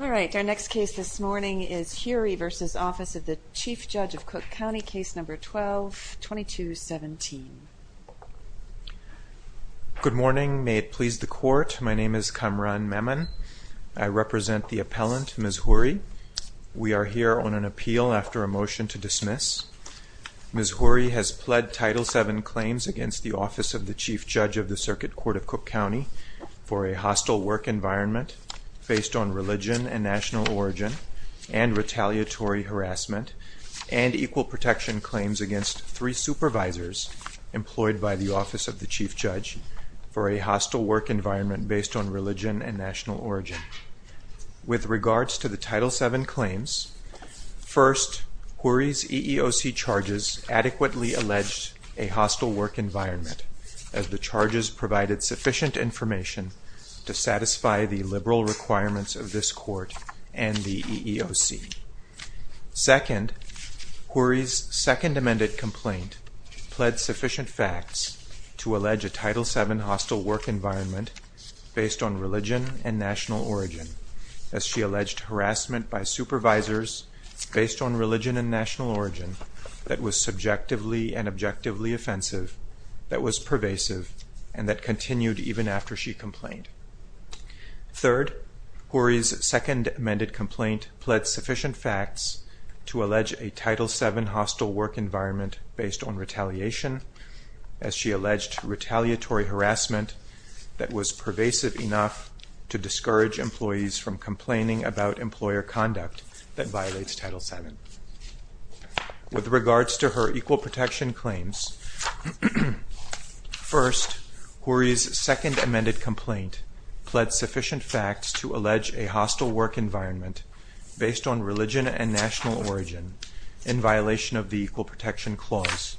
All right, our next case this morning is Huri v. Office of the Chief Judge of Cook County, case number 12-2217. Good morning, may it please the court, my name is Kamran Memon. I represent the appellant Ms. Huri. We are here on an appeal after a motion to dismiss. Ms. Huri has pled Title VII claims against the Office of the Chief Judge of the Circuit Court of Cook County for a hostile work environment based on religion and national origin and retaliatory harassment and equal protection claims against three supervisors. Employed by the Office of the Chief Judge for a hostile work environment based on religion and national origin. With regards to the Title VII claims, first, Huri's EEOC charges adequately alleged a hostile work environment as the charges provided sufficient information to satisfy the liberal requirements of this court and the EEOC. Second, Huri's second amended complaint pled sufficient facts to allege a Title VII hostile work environment based on religion and national origin as she alleged harassment by supervisors based on religion and national origin that was subjectively and objectively offensive, that was pervasive, and that continued even after she complained. Third, Huri's second amended complaint pled sufficient facts to allege a Title VII hostile work environment based on retaliation as she alleged retaliatory harassment that was pervasive enough to discourage employees from complaining about employer conduct that violates Title VII. With regards to her equal protection claims, first, Huri's second amended complaint pled sufficient facts to allege a hostile work environment based on religion and national origin in violation of the Equal Protection Clause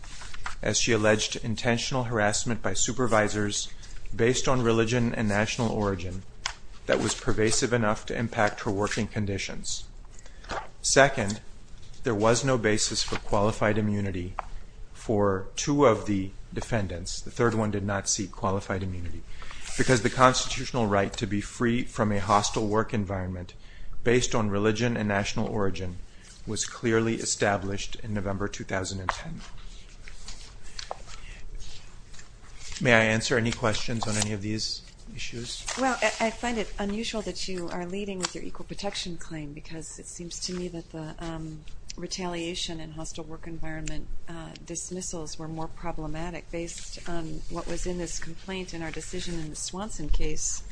as she alleged intentional harassment by supervisors based on religion and national origin that was pervasive enough to impact her working conditions. Second, there was no basis for qualified immunity for two of the defendants, the third one did not seek qualified immunity, because the constitutional right to be free from a hostile work environment based on religion and national origin was clearly established in November 2010. May I answer any questions on any of these issues? Well, I find it unusual that you are leading with your equal protection claim, because it seems to me that the retaliation and hostile work environment dismissals were more problematic based on what was in this complaint in our decision in the Swanson case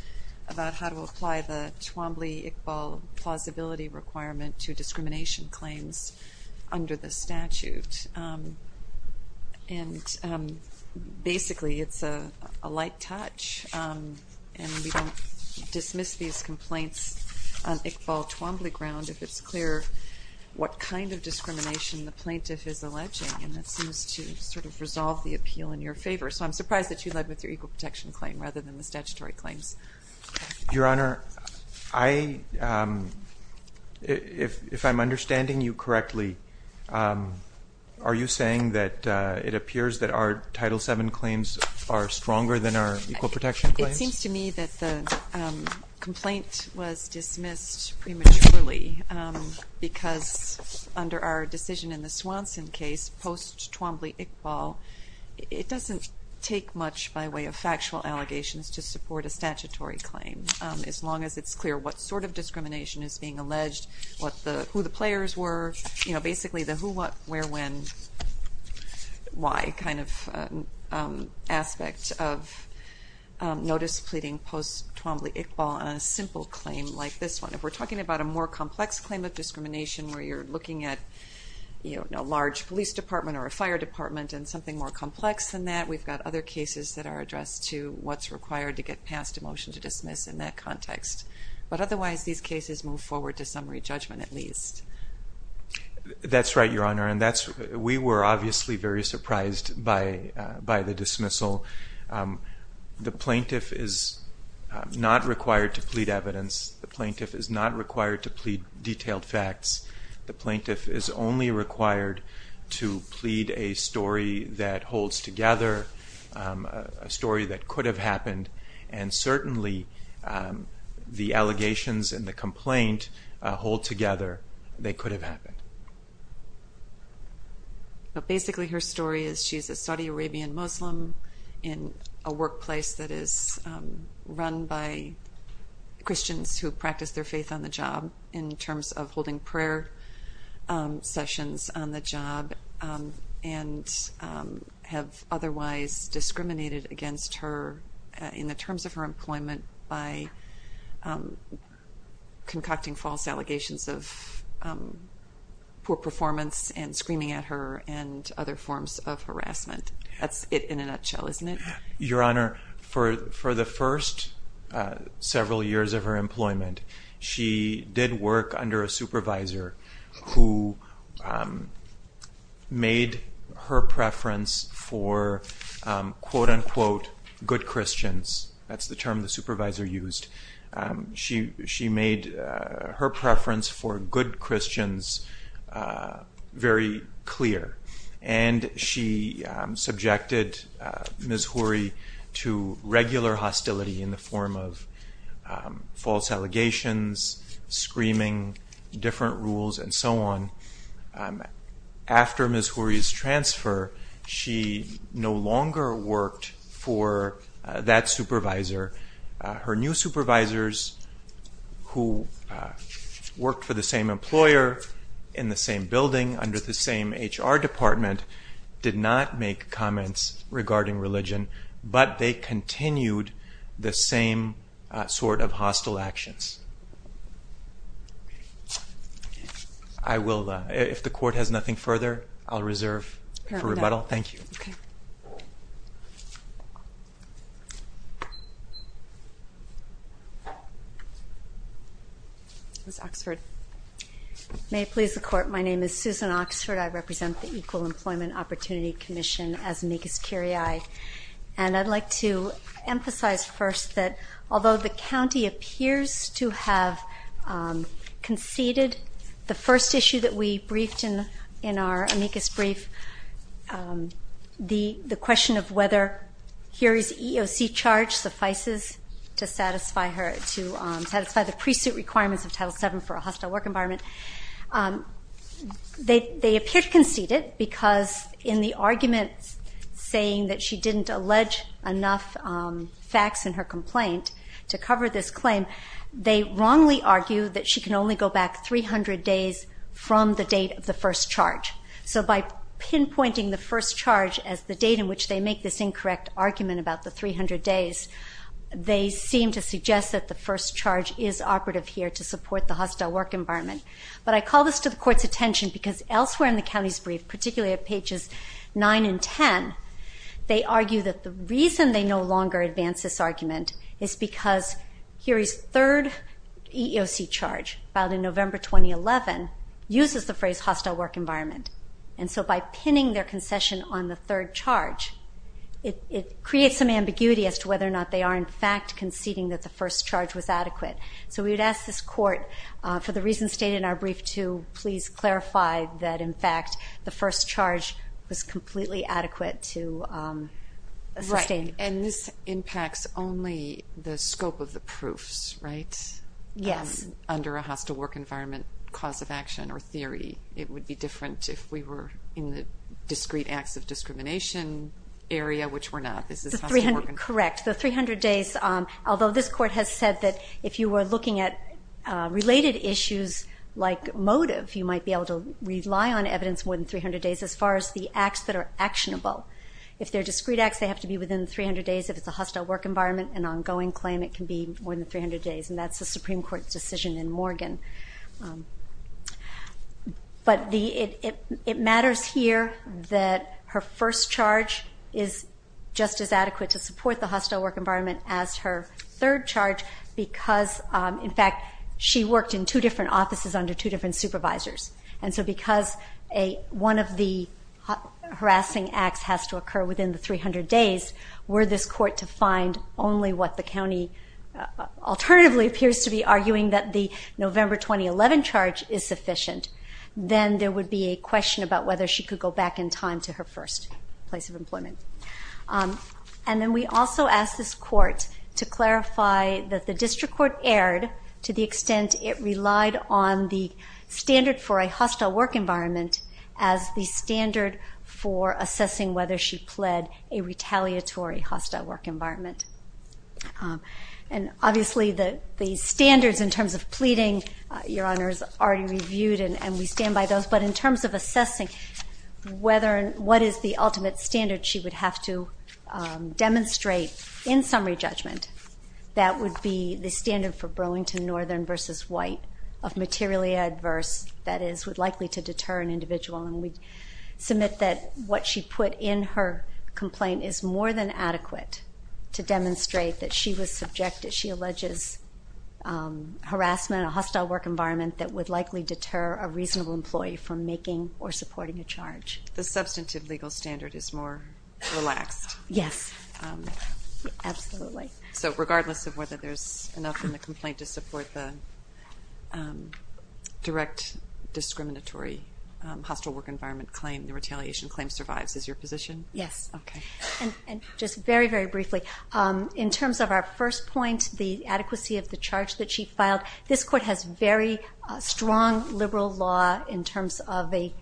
about how to apply the Twombly-Iqbal plausibility requirement to discrimination claims under the statute. And basically, it's a light touch, and we don't dismiss these complaints on Iqbal-Twombly ground if it's clear what kind of discrimination the plaintiff is alleging, and that seems to sort of resolve the appeal in your favor. So I'm surprised that you led with your equal protection claim rather than the statutory claims. Your Honor, if I'm understanding you correctly, are you saying that it appears that our Title VII claims are stronger than our equal protection claims? Well, it seems to me that the complaint was dismissed prematurely, because under our decision in the Swanson case post-Twombly-Iqbal, it doesn't take much by way of factual allegations to support a statutory claim, as long as it's clear what sort of discrimination is being alleged, who the players were. So basically, the who, what, where, when, why kind of aspect of notice pleading post-Twombly-Iqbal on a simple claim like this one. If we're talking about a more complex claim of discrimination where you're looking at a large police department or a fire department and something more complex than that, we've got other cases that are addressed to what's required to get passed a motion to dismiss in that context. But otherwise, these cases move forward to summary judgment, at least. That's right, Your Honor, and we were obviously very surprised by the dismissal. The plaintiff is not required to plead evidence. The plaintiff is not required to plead detailed facts. The plaintiff is only required to plead a story that holds together, a story that could have happened. And certainly, the allegations and the complaint hold together, they could have happened. But basically, her story is she's a Saudi Arabian Muslim in a workplace that is run by Christians who practice their faith on the job in terms of holding prayer sessions on the job and have otherwise discriminated against her in the terms of her employment by concocting false allegations of poor performance and screaming at her and other forms of harassment. That's it in a nutshell, isn't it? Your Honor, for the first several years of her employment, she did work under a supervisor who made her preference for, quote unquote, good Christians. That's the term the supervisor used. She made her preference for good Christians very clear. And she subjected Ms. Hoorie to regular hostility in the form of false allegations, screaming, different rules, and so on. After Ms. Hoorie's transfer, she no longer worked for that supervisor. Her new supervisors who worked for the same employer in the same building under the same HR department did not make comments regarding religion, but they continued the same sort of hostile actions. I will, if the court has nothing further, I'll reserve for rebuttal. Thank you. Okay. Ms. Oxford. May it please the court, my name is Susan Oxford. I represent the Equal Employment Opportunity Commission as amicus curiae. And I'd like to emphasize first that although the county appears to have conceded the first issue that we briefed in our amicus brief, the question of whether Hoorie's EEOC charge suffices to satisfy the pre-suit requirements of Title VII for a hostile work environment, they appear to concede it because in the arguments saying that she didn't allege enough facts in her complaint to cover this claim, they wrongly argue that she can only go back 300 days from the date of the first charge. So by pinpointing the first charge as the date in which they make this incorrect argument about the 300 days, they seem to suggest that the first charge is operative here to support the hostile work environment. But I call this to the court's attention because elsewhere in the county's brief, particularly at pages 9 and 10, they argue that the reason they no longer advance this argument is because Hoorie's third EEOC charge, filed in November 2011, uses the phrase hostile work environment. And so by pinning their concession on the third charge, it creates some ambiguity as to whether or not they are in fact conceding that the first charge was adequate. So we would ask this court, for the reasons stated in our brief, to please clarify that in fact the first charge was completely adequate to sustain. And this impacts only the scope of the proofs, right? Yes. Under a hostile work environment cause of action or theory. It would be different if we were in the discrete acts of discrimination area, which we're not. Correct. The 300 days, although this court has said that if you were looking at related issues like motive, you might be able to rely on evidence more than 300 days as far as the acts that are actionable. If they're discrete acts, they have to be within 300 days. If it's a hostile work environment, an ongoing claim, it can be more than 300 days, and that's the Supreme Court's decision in Morgan. But it matters here that her first charge is just as adequate to support the hostile work environment as her third charge because, in fact, she worked in two different offices under two different supervisors. And so because one of the harassing acts has to occur within the 300 days, were this court to find only what the county alternatively appears to be arguing, that the November 2011 charge is sufficient, then there would be a question about whether she could go back in time to her first place of employment. And then we also asked this court to clarify that the district court erred to the extent it relied on the standard for a hostile work environment as the standard for assessing whether she pled a retaliatory hostile work environment. And, obviously, the standards in terms of pleading, Your Honor, is already reviewed, and we stand by those. But in terms of assessing what is the ultimate standard she would have to demonstrate in summary judgment, that would be the standard for Burlington Northern v. White of materially adverse, that is, would likely to deter an individual, and we submit that what she put in her complaint is more than adequate to demonstrate that she was subjected, she alleges, harassment in a hostile work environment that would likely deter a reasonable employee from making or supporting a charge. The substantive legal standard is more relaxed. Yes, absolutely. So regardless of whether there's enough in the complaint to support the direct discriminatory hostile work environment claim, the retaliation claim survives, is your position? Yes. Okay. And just very, very briefly, in terms of our first point, the adequacy of the charge that she filed, this court has very strong liberal law in terms of a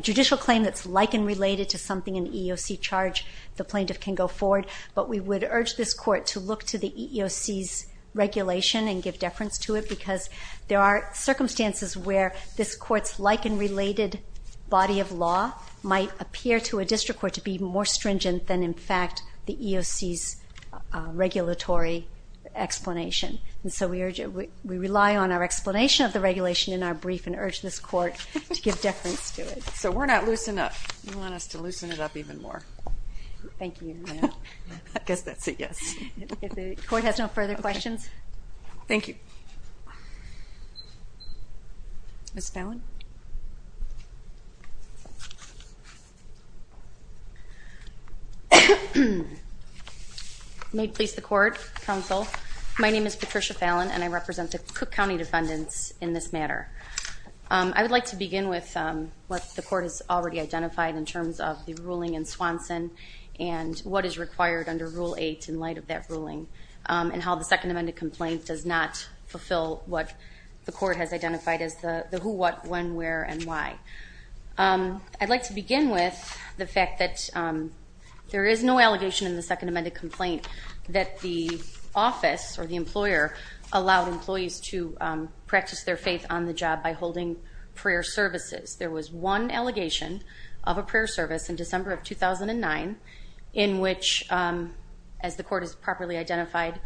judicial claim that's like and related to something in the EEOC charge. The plaintiff can go forward, but we would urge this court to look to the EEOC's regulation and give deference to it because there are circumstances where this court's like and related body of law might appear to a district court to be more stringent than, in fact, the EEOC's regulatory explanation. And so we rely on our explanation of the regulation in our brief and urge this court to give deference to it. So we're not loose enough. You want us to loosen it up even more. Thank you. I guess that's a yes. If the court has no further questions. Thank you. Ms. Fallon. May it please the court, counsel, my name is Patricia Fallon, and I represent the Cook County Defendants in this matter. I would like to begin with what the court has already identified in terms of the ruling in Swanson and what is required under Rule 8 in light of that ruling and how the Second Amended Complaint does not fulfill what the court has identified as the who, what, when, where, and why. I'd like to begin with the fact that there is no allegation in the Second Amended Complaint that the office or the employer allowed employees to practice their faith on the job by holding prayer services. There was one allegation of a prayer service in December of 2009 in which, as the court has properly identified,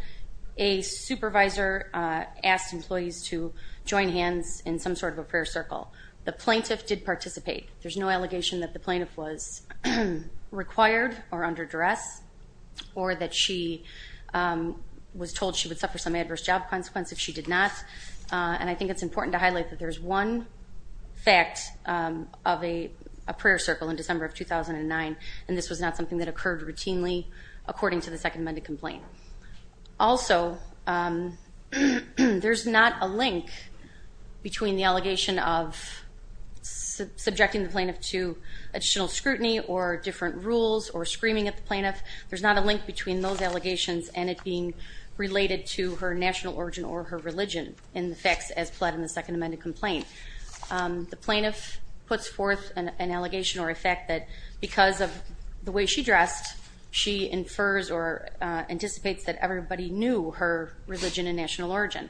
a supervisor asked employees to join hands in some sort of a prayer circle. The plaintiff did participate. There's no allegation that the plaintiff was required or under duress or that she was told she would suffer some adverse job consequences. She did not. And I think it's important to highlight that there's one fact of a prayer circle in December of 2009, and this was not something that occurred routinely according to the Second Amended Complaint. Also, there's not a link between the allegation of subjecting the plaintiff to additional scrutiny or different rules or screaming at the plaintiff. There's not a link between those allegations and it being related to her national origin or her religion in the facts as pled in the Second Amended Complaint. The plaintiff puts forth an allegation or a fact that because of the way she dressed, she infers or anticipates that everybody knew her religion and national origin.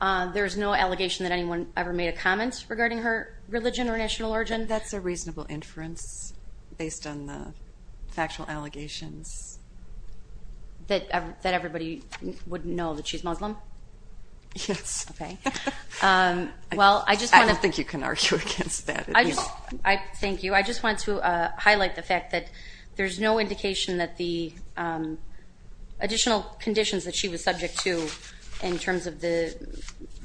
There's no allegation that anyone ever made a comment regarding her religion or national origin. That's a reasonable inference based on the factual allegations. That everybody would know that she's Muslim? Yes. Okay. I don't think you can argue against that. Thank you. I just want to highlight the fact that there's no indication that the additional conditions that she was subject to in terms of the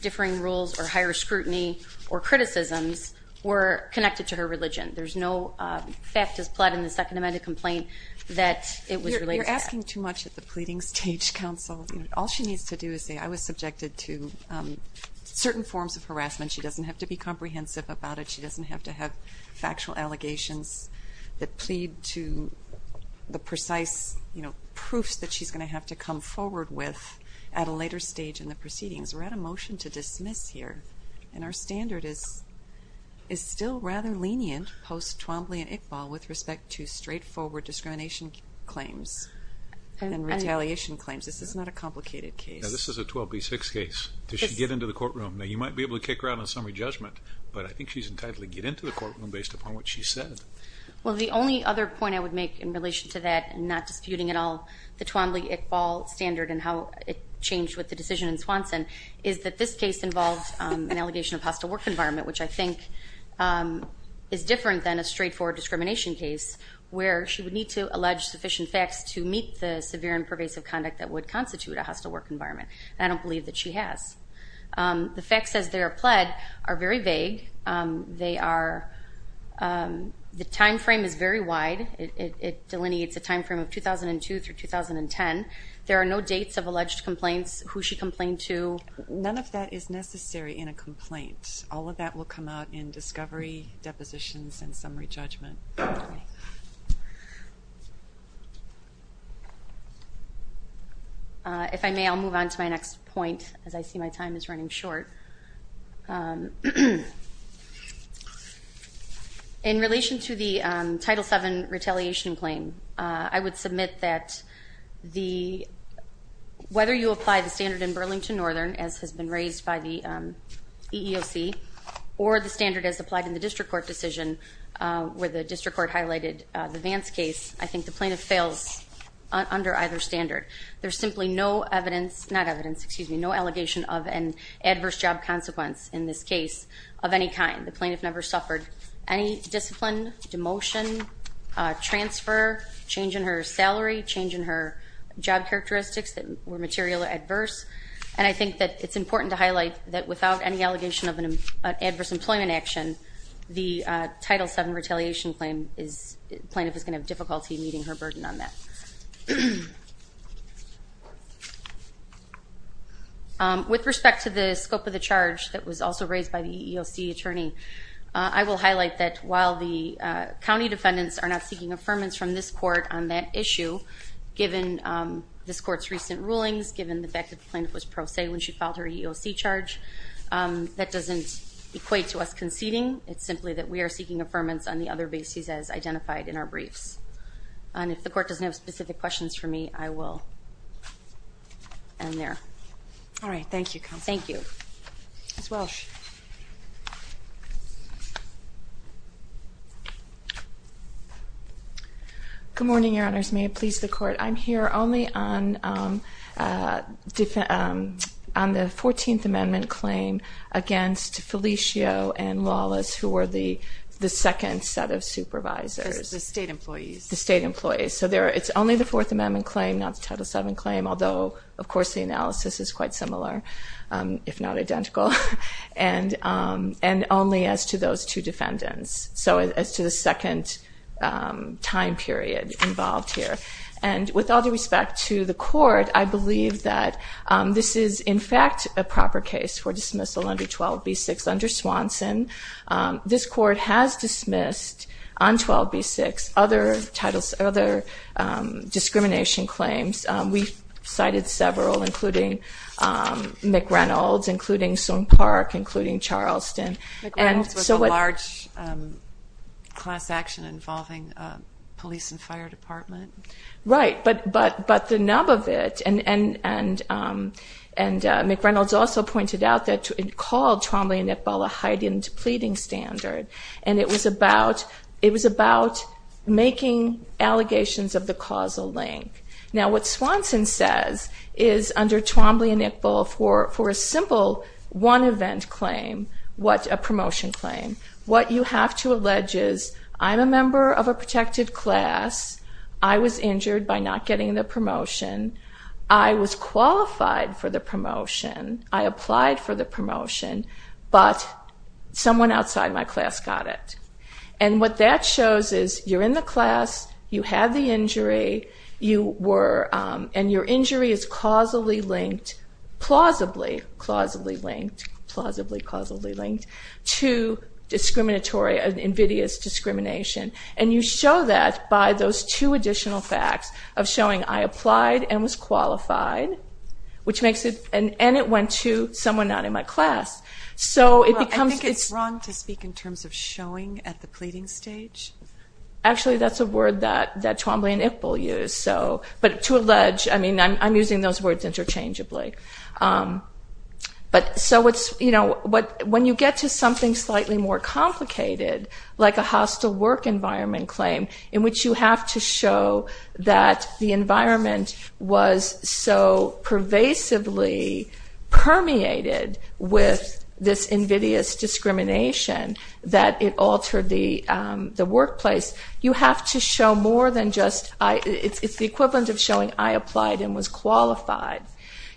differing rules or higher scrutiny or criticisms were connected to her religion. There's no fact as pled in the Second Amended Complaint that it was related to that. You're asking too much at the pleading stage, Counsel. All she needs to do is say, I was subjected to certain forms of harassment. She doesn't have to be comprehensive about it. She doesn't have to have factual allegations that plead to the precise proofs that she's going to have to come forward with at a later stage in the proceedings. We're at a motion to dismiss here, and our standard is still rather lenient post-Twombly and Iqbal with respect to straightforward discrimination claims and retaliation claims. This is not a complicated case. This is a 12B6 case. Does she get into the courtroom? Now, you might be able to kick her out on a summary judgment, but I think she's entitled to get into the courtroom based upon what she said. Well, the only other point I would make in relation to that, not disputing at all the Twombly-Iqbal standard and how it changed with the decision in Swanson, is that this case involved an allegation of hostile work environment, which I think is different than a straightforward discrimination case where she would need to allege sufficient facts to meet the severe and pervasive conduct that would constitute a hostile work environment, and I don't believe that she has. The facts as they are pled are very vague. The time frame is very wide. It delineates a time frame of 2002 through 2010. There are no dates of alleged complaints, who she complained to. None of that is necessary in a complaint. All of that will come out in discovery, depositions, and summary judgment. If I may, I'll move on to my next point, as I see my time is running short. In relation to the Title VII retaliation claim, I would submit that whether you apply the standard in Burlington Northern, as has been raised by the EEOC, or the standard as applied in the district court decision where the district court highlighted the Vance case, I think the plaintiff fails under either standard. There's simply no evidence, not evidence, excuse me, no allegation of an adverse job consequence in this case of any kind. The plaintiff never suffered any discipline, demotion, transfer, change in her salary, change in her job characteristics that were materially adverse, and I think that it's important to highlight that without any allegation of an adverse employment action, the Title VII retaliation claim is, the plaintiff is going to have difficulty meeting her burden on that. With respect to the scope of the charge that was also raised by the EEOC attorney, I will highlight that while the county defendants are not seeking affirmance from this court on that issue, given this court's recent rulings, given the fact that the plaintiff was pro se when she filed her EEOC charge, that doesn't equate to us conceding. It's simply that we are seeking affirmance on the other bases as identified in our briefs. And if the court doesn't have specific questions for me, I will end there. All right, thank you, counsel. Thank you. Ms. Welch. Good morning, Your Honors. May it please the court. I'm here only on the 14th Amendment claim against Felicio and Lawless, who were the second set of supervisors. The state employees. The state employees. So it's only the Fourth Amendment claim, not the Title VII claim, although of course the analysis is quite similar, if not identical, and only as to those two defendants, so as to the second time period involved here. And with all due respect to the court, I believe that this is in fact a proper case for dismissal under 12b-6 under Swanson. This court has dismissed on 12b-6 other discrimination claims. We've cited several, including McReynolds, including Soong Park, including Charleston. McReynolds was a large class action involving police and fire department. Right, but the nub of it, and McReynolds also pointed out that it called Twombly and Iqbal a heightened pleading standard, and it was about making allegations of the causal link. Now what Swanson says is under Twombly and Iqbal, for a simple one-event claim, a promotion claim, what you have to allege is, I'm a member of a protected class, I was injured by not getting the promotion, I was qualified for the promotion, I applied for the promotion, but someone outside my class got it. And what that shows is you're in the class, you have the injury, and your injury is causally linked, plausibly causally linked, to an invidious discrimination, and you show that by those two additional facts of showing I applied and was qualified, and it went to someone not in my class. Well, I think it's wrong to speak in terms of showing at the pleading stage. Actually, that's a word that Twombly and Iqbal use. But to allege, I mean, I'm using those words interchangeably. But when you get to something slightly more complicated, like a hostile work environment claim, in which you have to show that the environment was so pervasively permeated with this invidious discrimination that it altered the workplace, you have to show more than just, it's the equivalent of showing I applied and was qualified.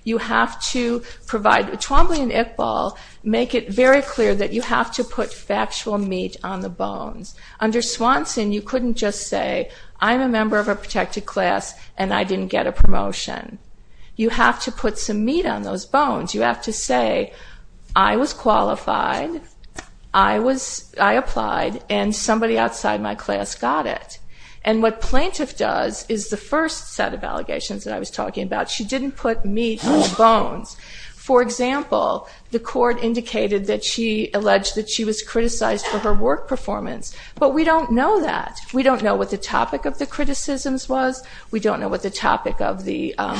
You have to provide, Twombly and Iqbal make it very clear that you have to put factual meat on the bones. Under Swanson, you couldn't just say, I'm a member of a protected class and I didn't get a promotion. You have to put some meat on those bones. You have to say, I was qualified, I applied, and somebody outside my class got it. And what Plaintiff does is the first set of allegations that I was talking about. She didn't put meat on the bones. For example, the court indicated that she alleged that she was criticized for her work performance, but we don't know that. We don't know what the topic of the criticisms was. We don't know what the topic of the- And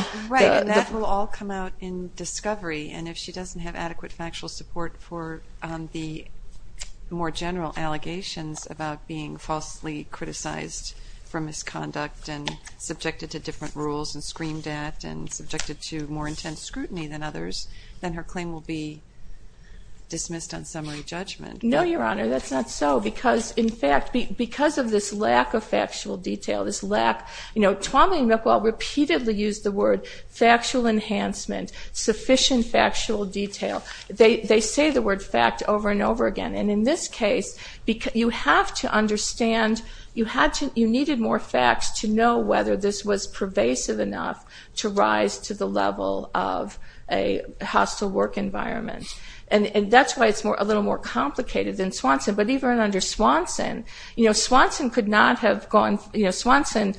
if she doesn't have adequate factual support for the more general allegations about being falsely criticized for misconduct and subjected to different rules and screamed at and subjected to more intense scrutiny than others, then her claim will be dismissed on summary judgment. No, Your Honor, that's not so. Because, in fact, because of this lack of factual detail, this lack, Twombly and Iqbal repeatedly used the word factual enhancement, sufficient factual detail. They say the word fact over and over again. And in this case, you have to understand, you needed more facts to know whether this was pervasive enough to rise to the level of a hostile work environment. And that's why it's a little more complicated than Swanson. But even under Swanson, you know, Swanson could not have gone- Swanson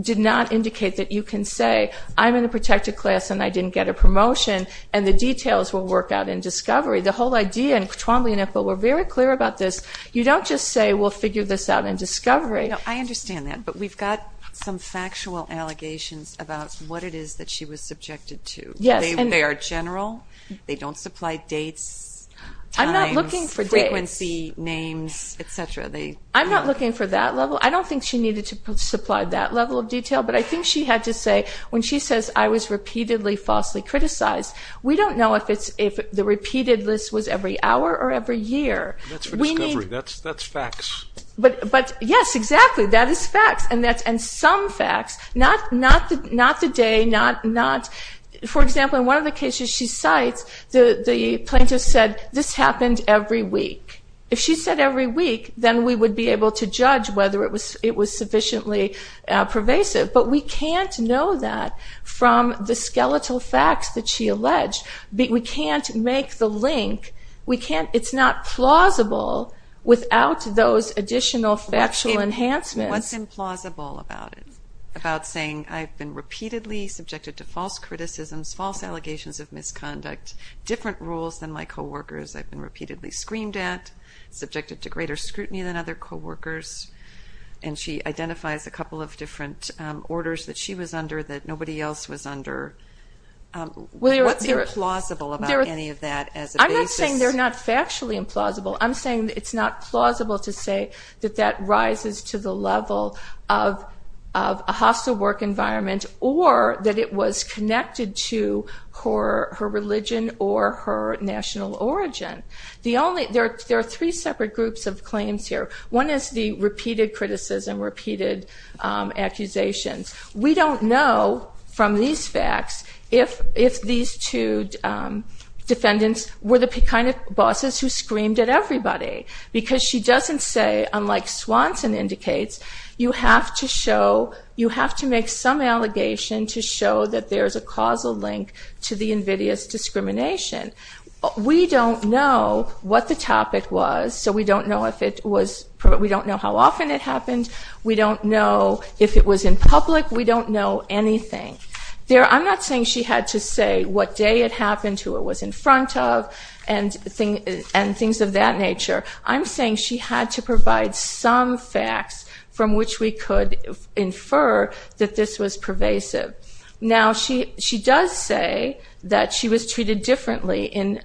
did not indicate that you can say, I'm in a protected class and I didn't get a promotion, and the details will work out in discovery. The whole idea, and Twombly and Iqbal were very clear about this, you don't just say, we'll figure this out in discovery. I understand that, but we've got some factual allegations about what it is that she was subjected to. They are general. They don't supply dates, times, frequency, names, et cetera. I'm not looking for that level. I don't think she needed to supply that level of detail, but I think she had to say, when she says, I was repeatedly falsely criticized, we don't know if the repeated list was every hour or every year. That's for discovery. That's facts. But, yes, exactly. That is facts, and some facts. Not the day, not- For example, in one of the cases she cites, the plaintiff said, this happened every week. If she said every week, then we would be able to judge whether it was sufficiently pervasive. But we can't know that from the skeletal facts that she alleged. We can't make the link. It's not plausible without those additional factual enhancements. What's implausible about it? About saying, I've been repeatedly subjected to false criticisms, false allegations of misconduct, different rules than my coworkers, I've been repeatedly screamed at, subjected to greater scrutiny than other coworkers, and she identifies a couple of different orders that she was under that nobody else was under. What's implausible about any of that as a basis? I'm not saying they're not factually implausible. I'm saying it's not plausible to say that that rises to the level of a hostile work environment, or that it was connected to her religion or her national origin. There are three separate groups of claims here. One is the repeated criticism, repeated accusations. We don't know from these facts if these two defendants were the kind of bosses who screamed at everybody. Because she doesn't say, unlike Swanson indicates, you have to make some allegation to show that there's a causal link to the invidious discrimination. We don't know what the topic was, so we don't know how often it happened. We don't know if it was in public. We don't know anything. I'm not saying she had to say what day it happened, who it was in front of, and things of that nature. I'm saying she had to provide some facts from which we could infer that this was pervasive. Now, she does say that she was treated differently in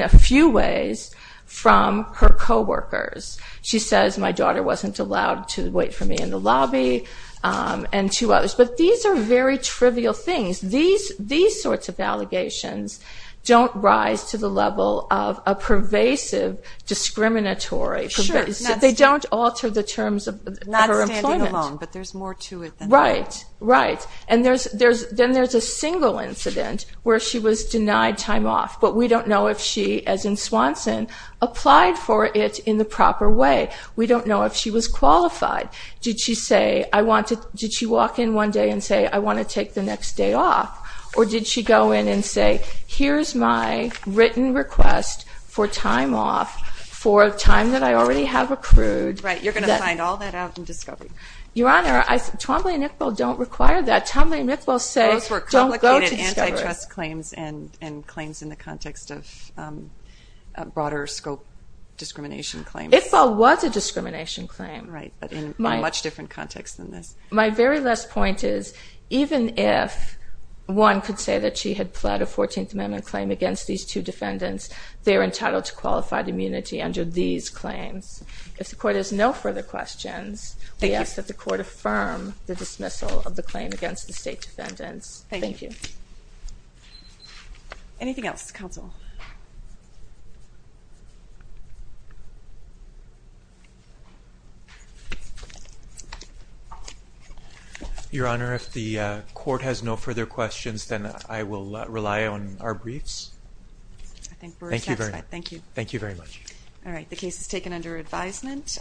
a few ways from her coworkers. She says, my daughter wasn't allowed to wait for me in the lobby, and two others. But these are very trivial things. These sorts of allegations don't rise to the level of a pervasive discriminatory. They don't alter the terms of her employment. Not standing alone, but there's more to it than that. Right, right. Then there's a single incident where she was denied time off, but we don't know if she, as in Swanson, applied for it in the proper way. We don't know if she was qualified. Did she walk in one day and say, I want to take the next day off? Or did she go in and say, here's my written request for time off for a time that I already have accrued? Right, you're going to find all that out in discovery. Your Honor, Twombly and Iqbal don't require that. Twombly and Iqbal say don't go to discovery. Those were complicated antitrust claims and claims in the context of broader scope discrimination claims. Iqbal was a discrimination claim. Right, but in a much different context than this. My very last point is, even if one could say that she had pled a 14th Amendment claim against these two defendants, they're entitled to qualified immunity under these claims. If the Court has no further questions, we ask that the Court affirm the dismissal of the claim against the state defendants. Thank you. Anything else? Counsel. Your Honor, if the Court has no further questions, then I will rely on our briefs. I think we're satisfied. Thank you. Thank you very much. All right, the case is taken under advisement.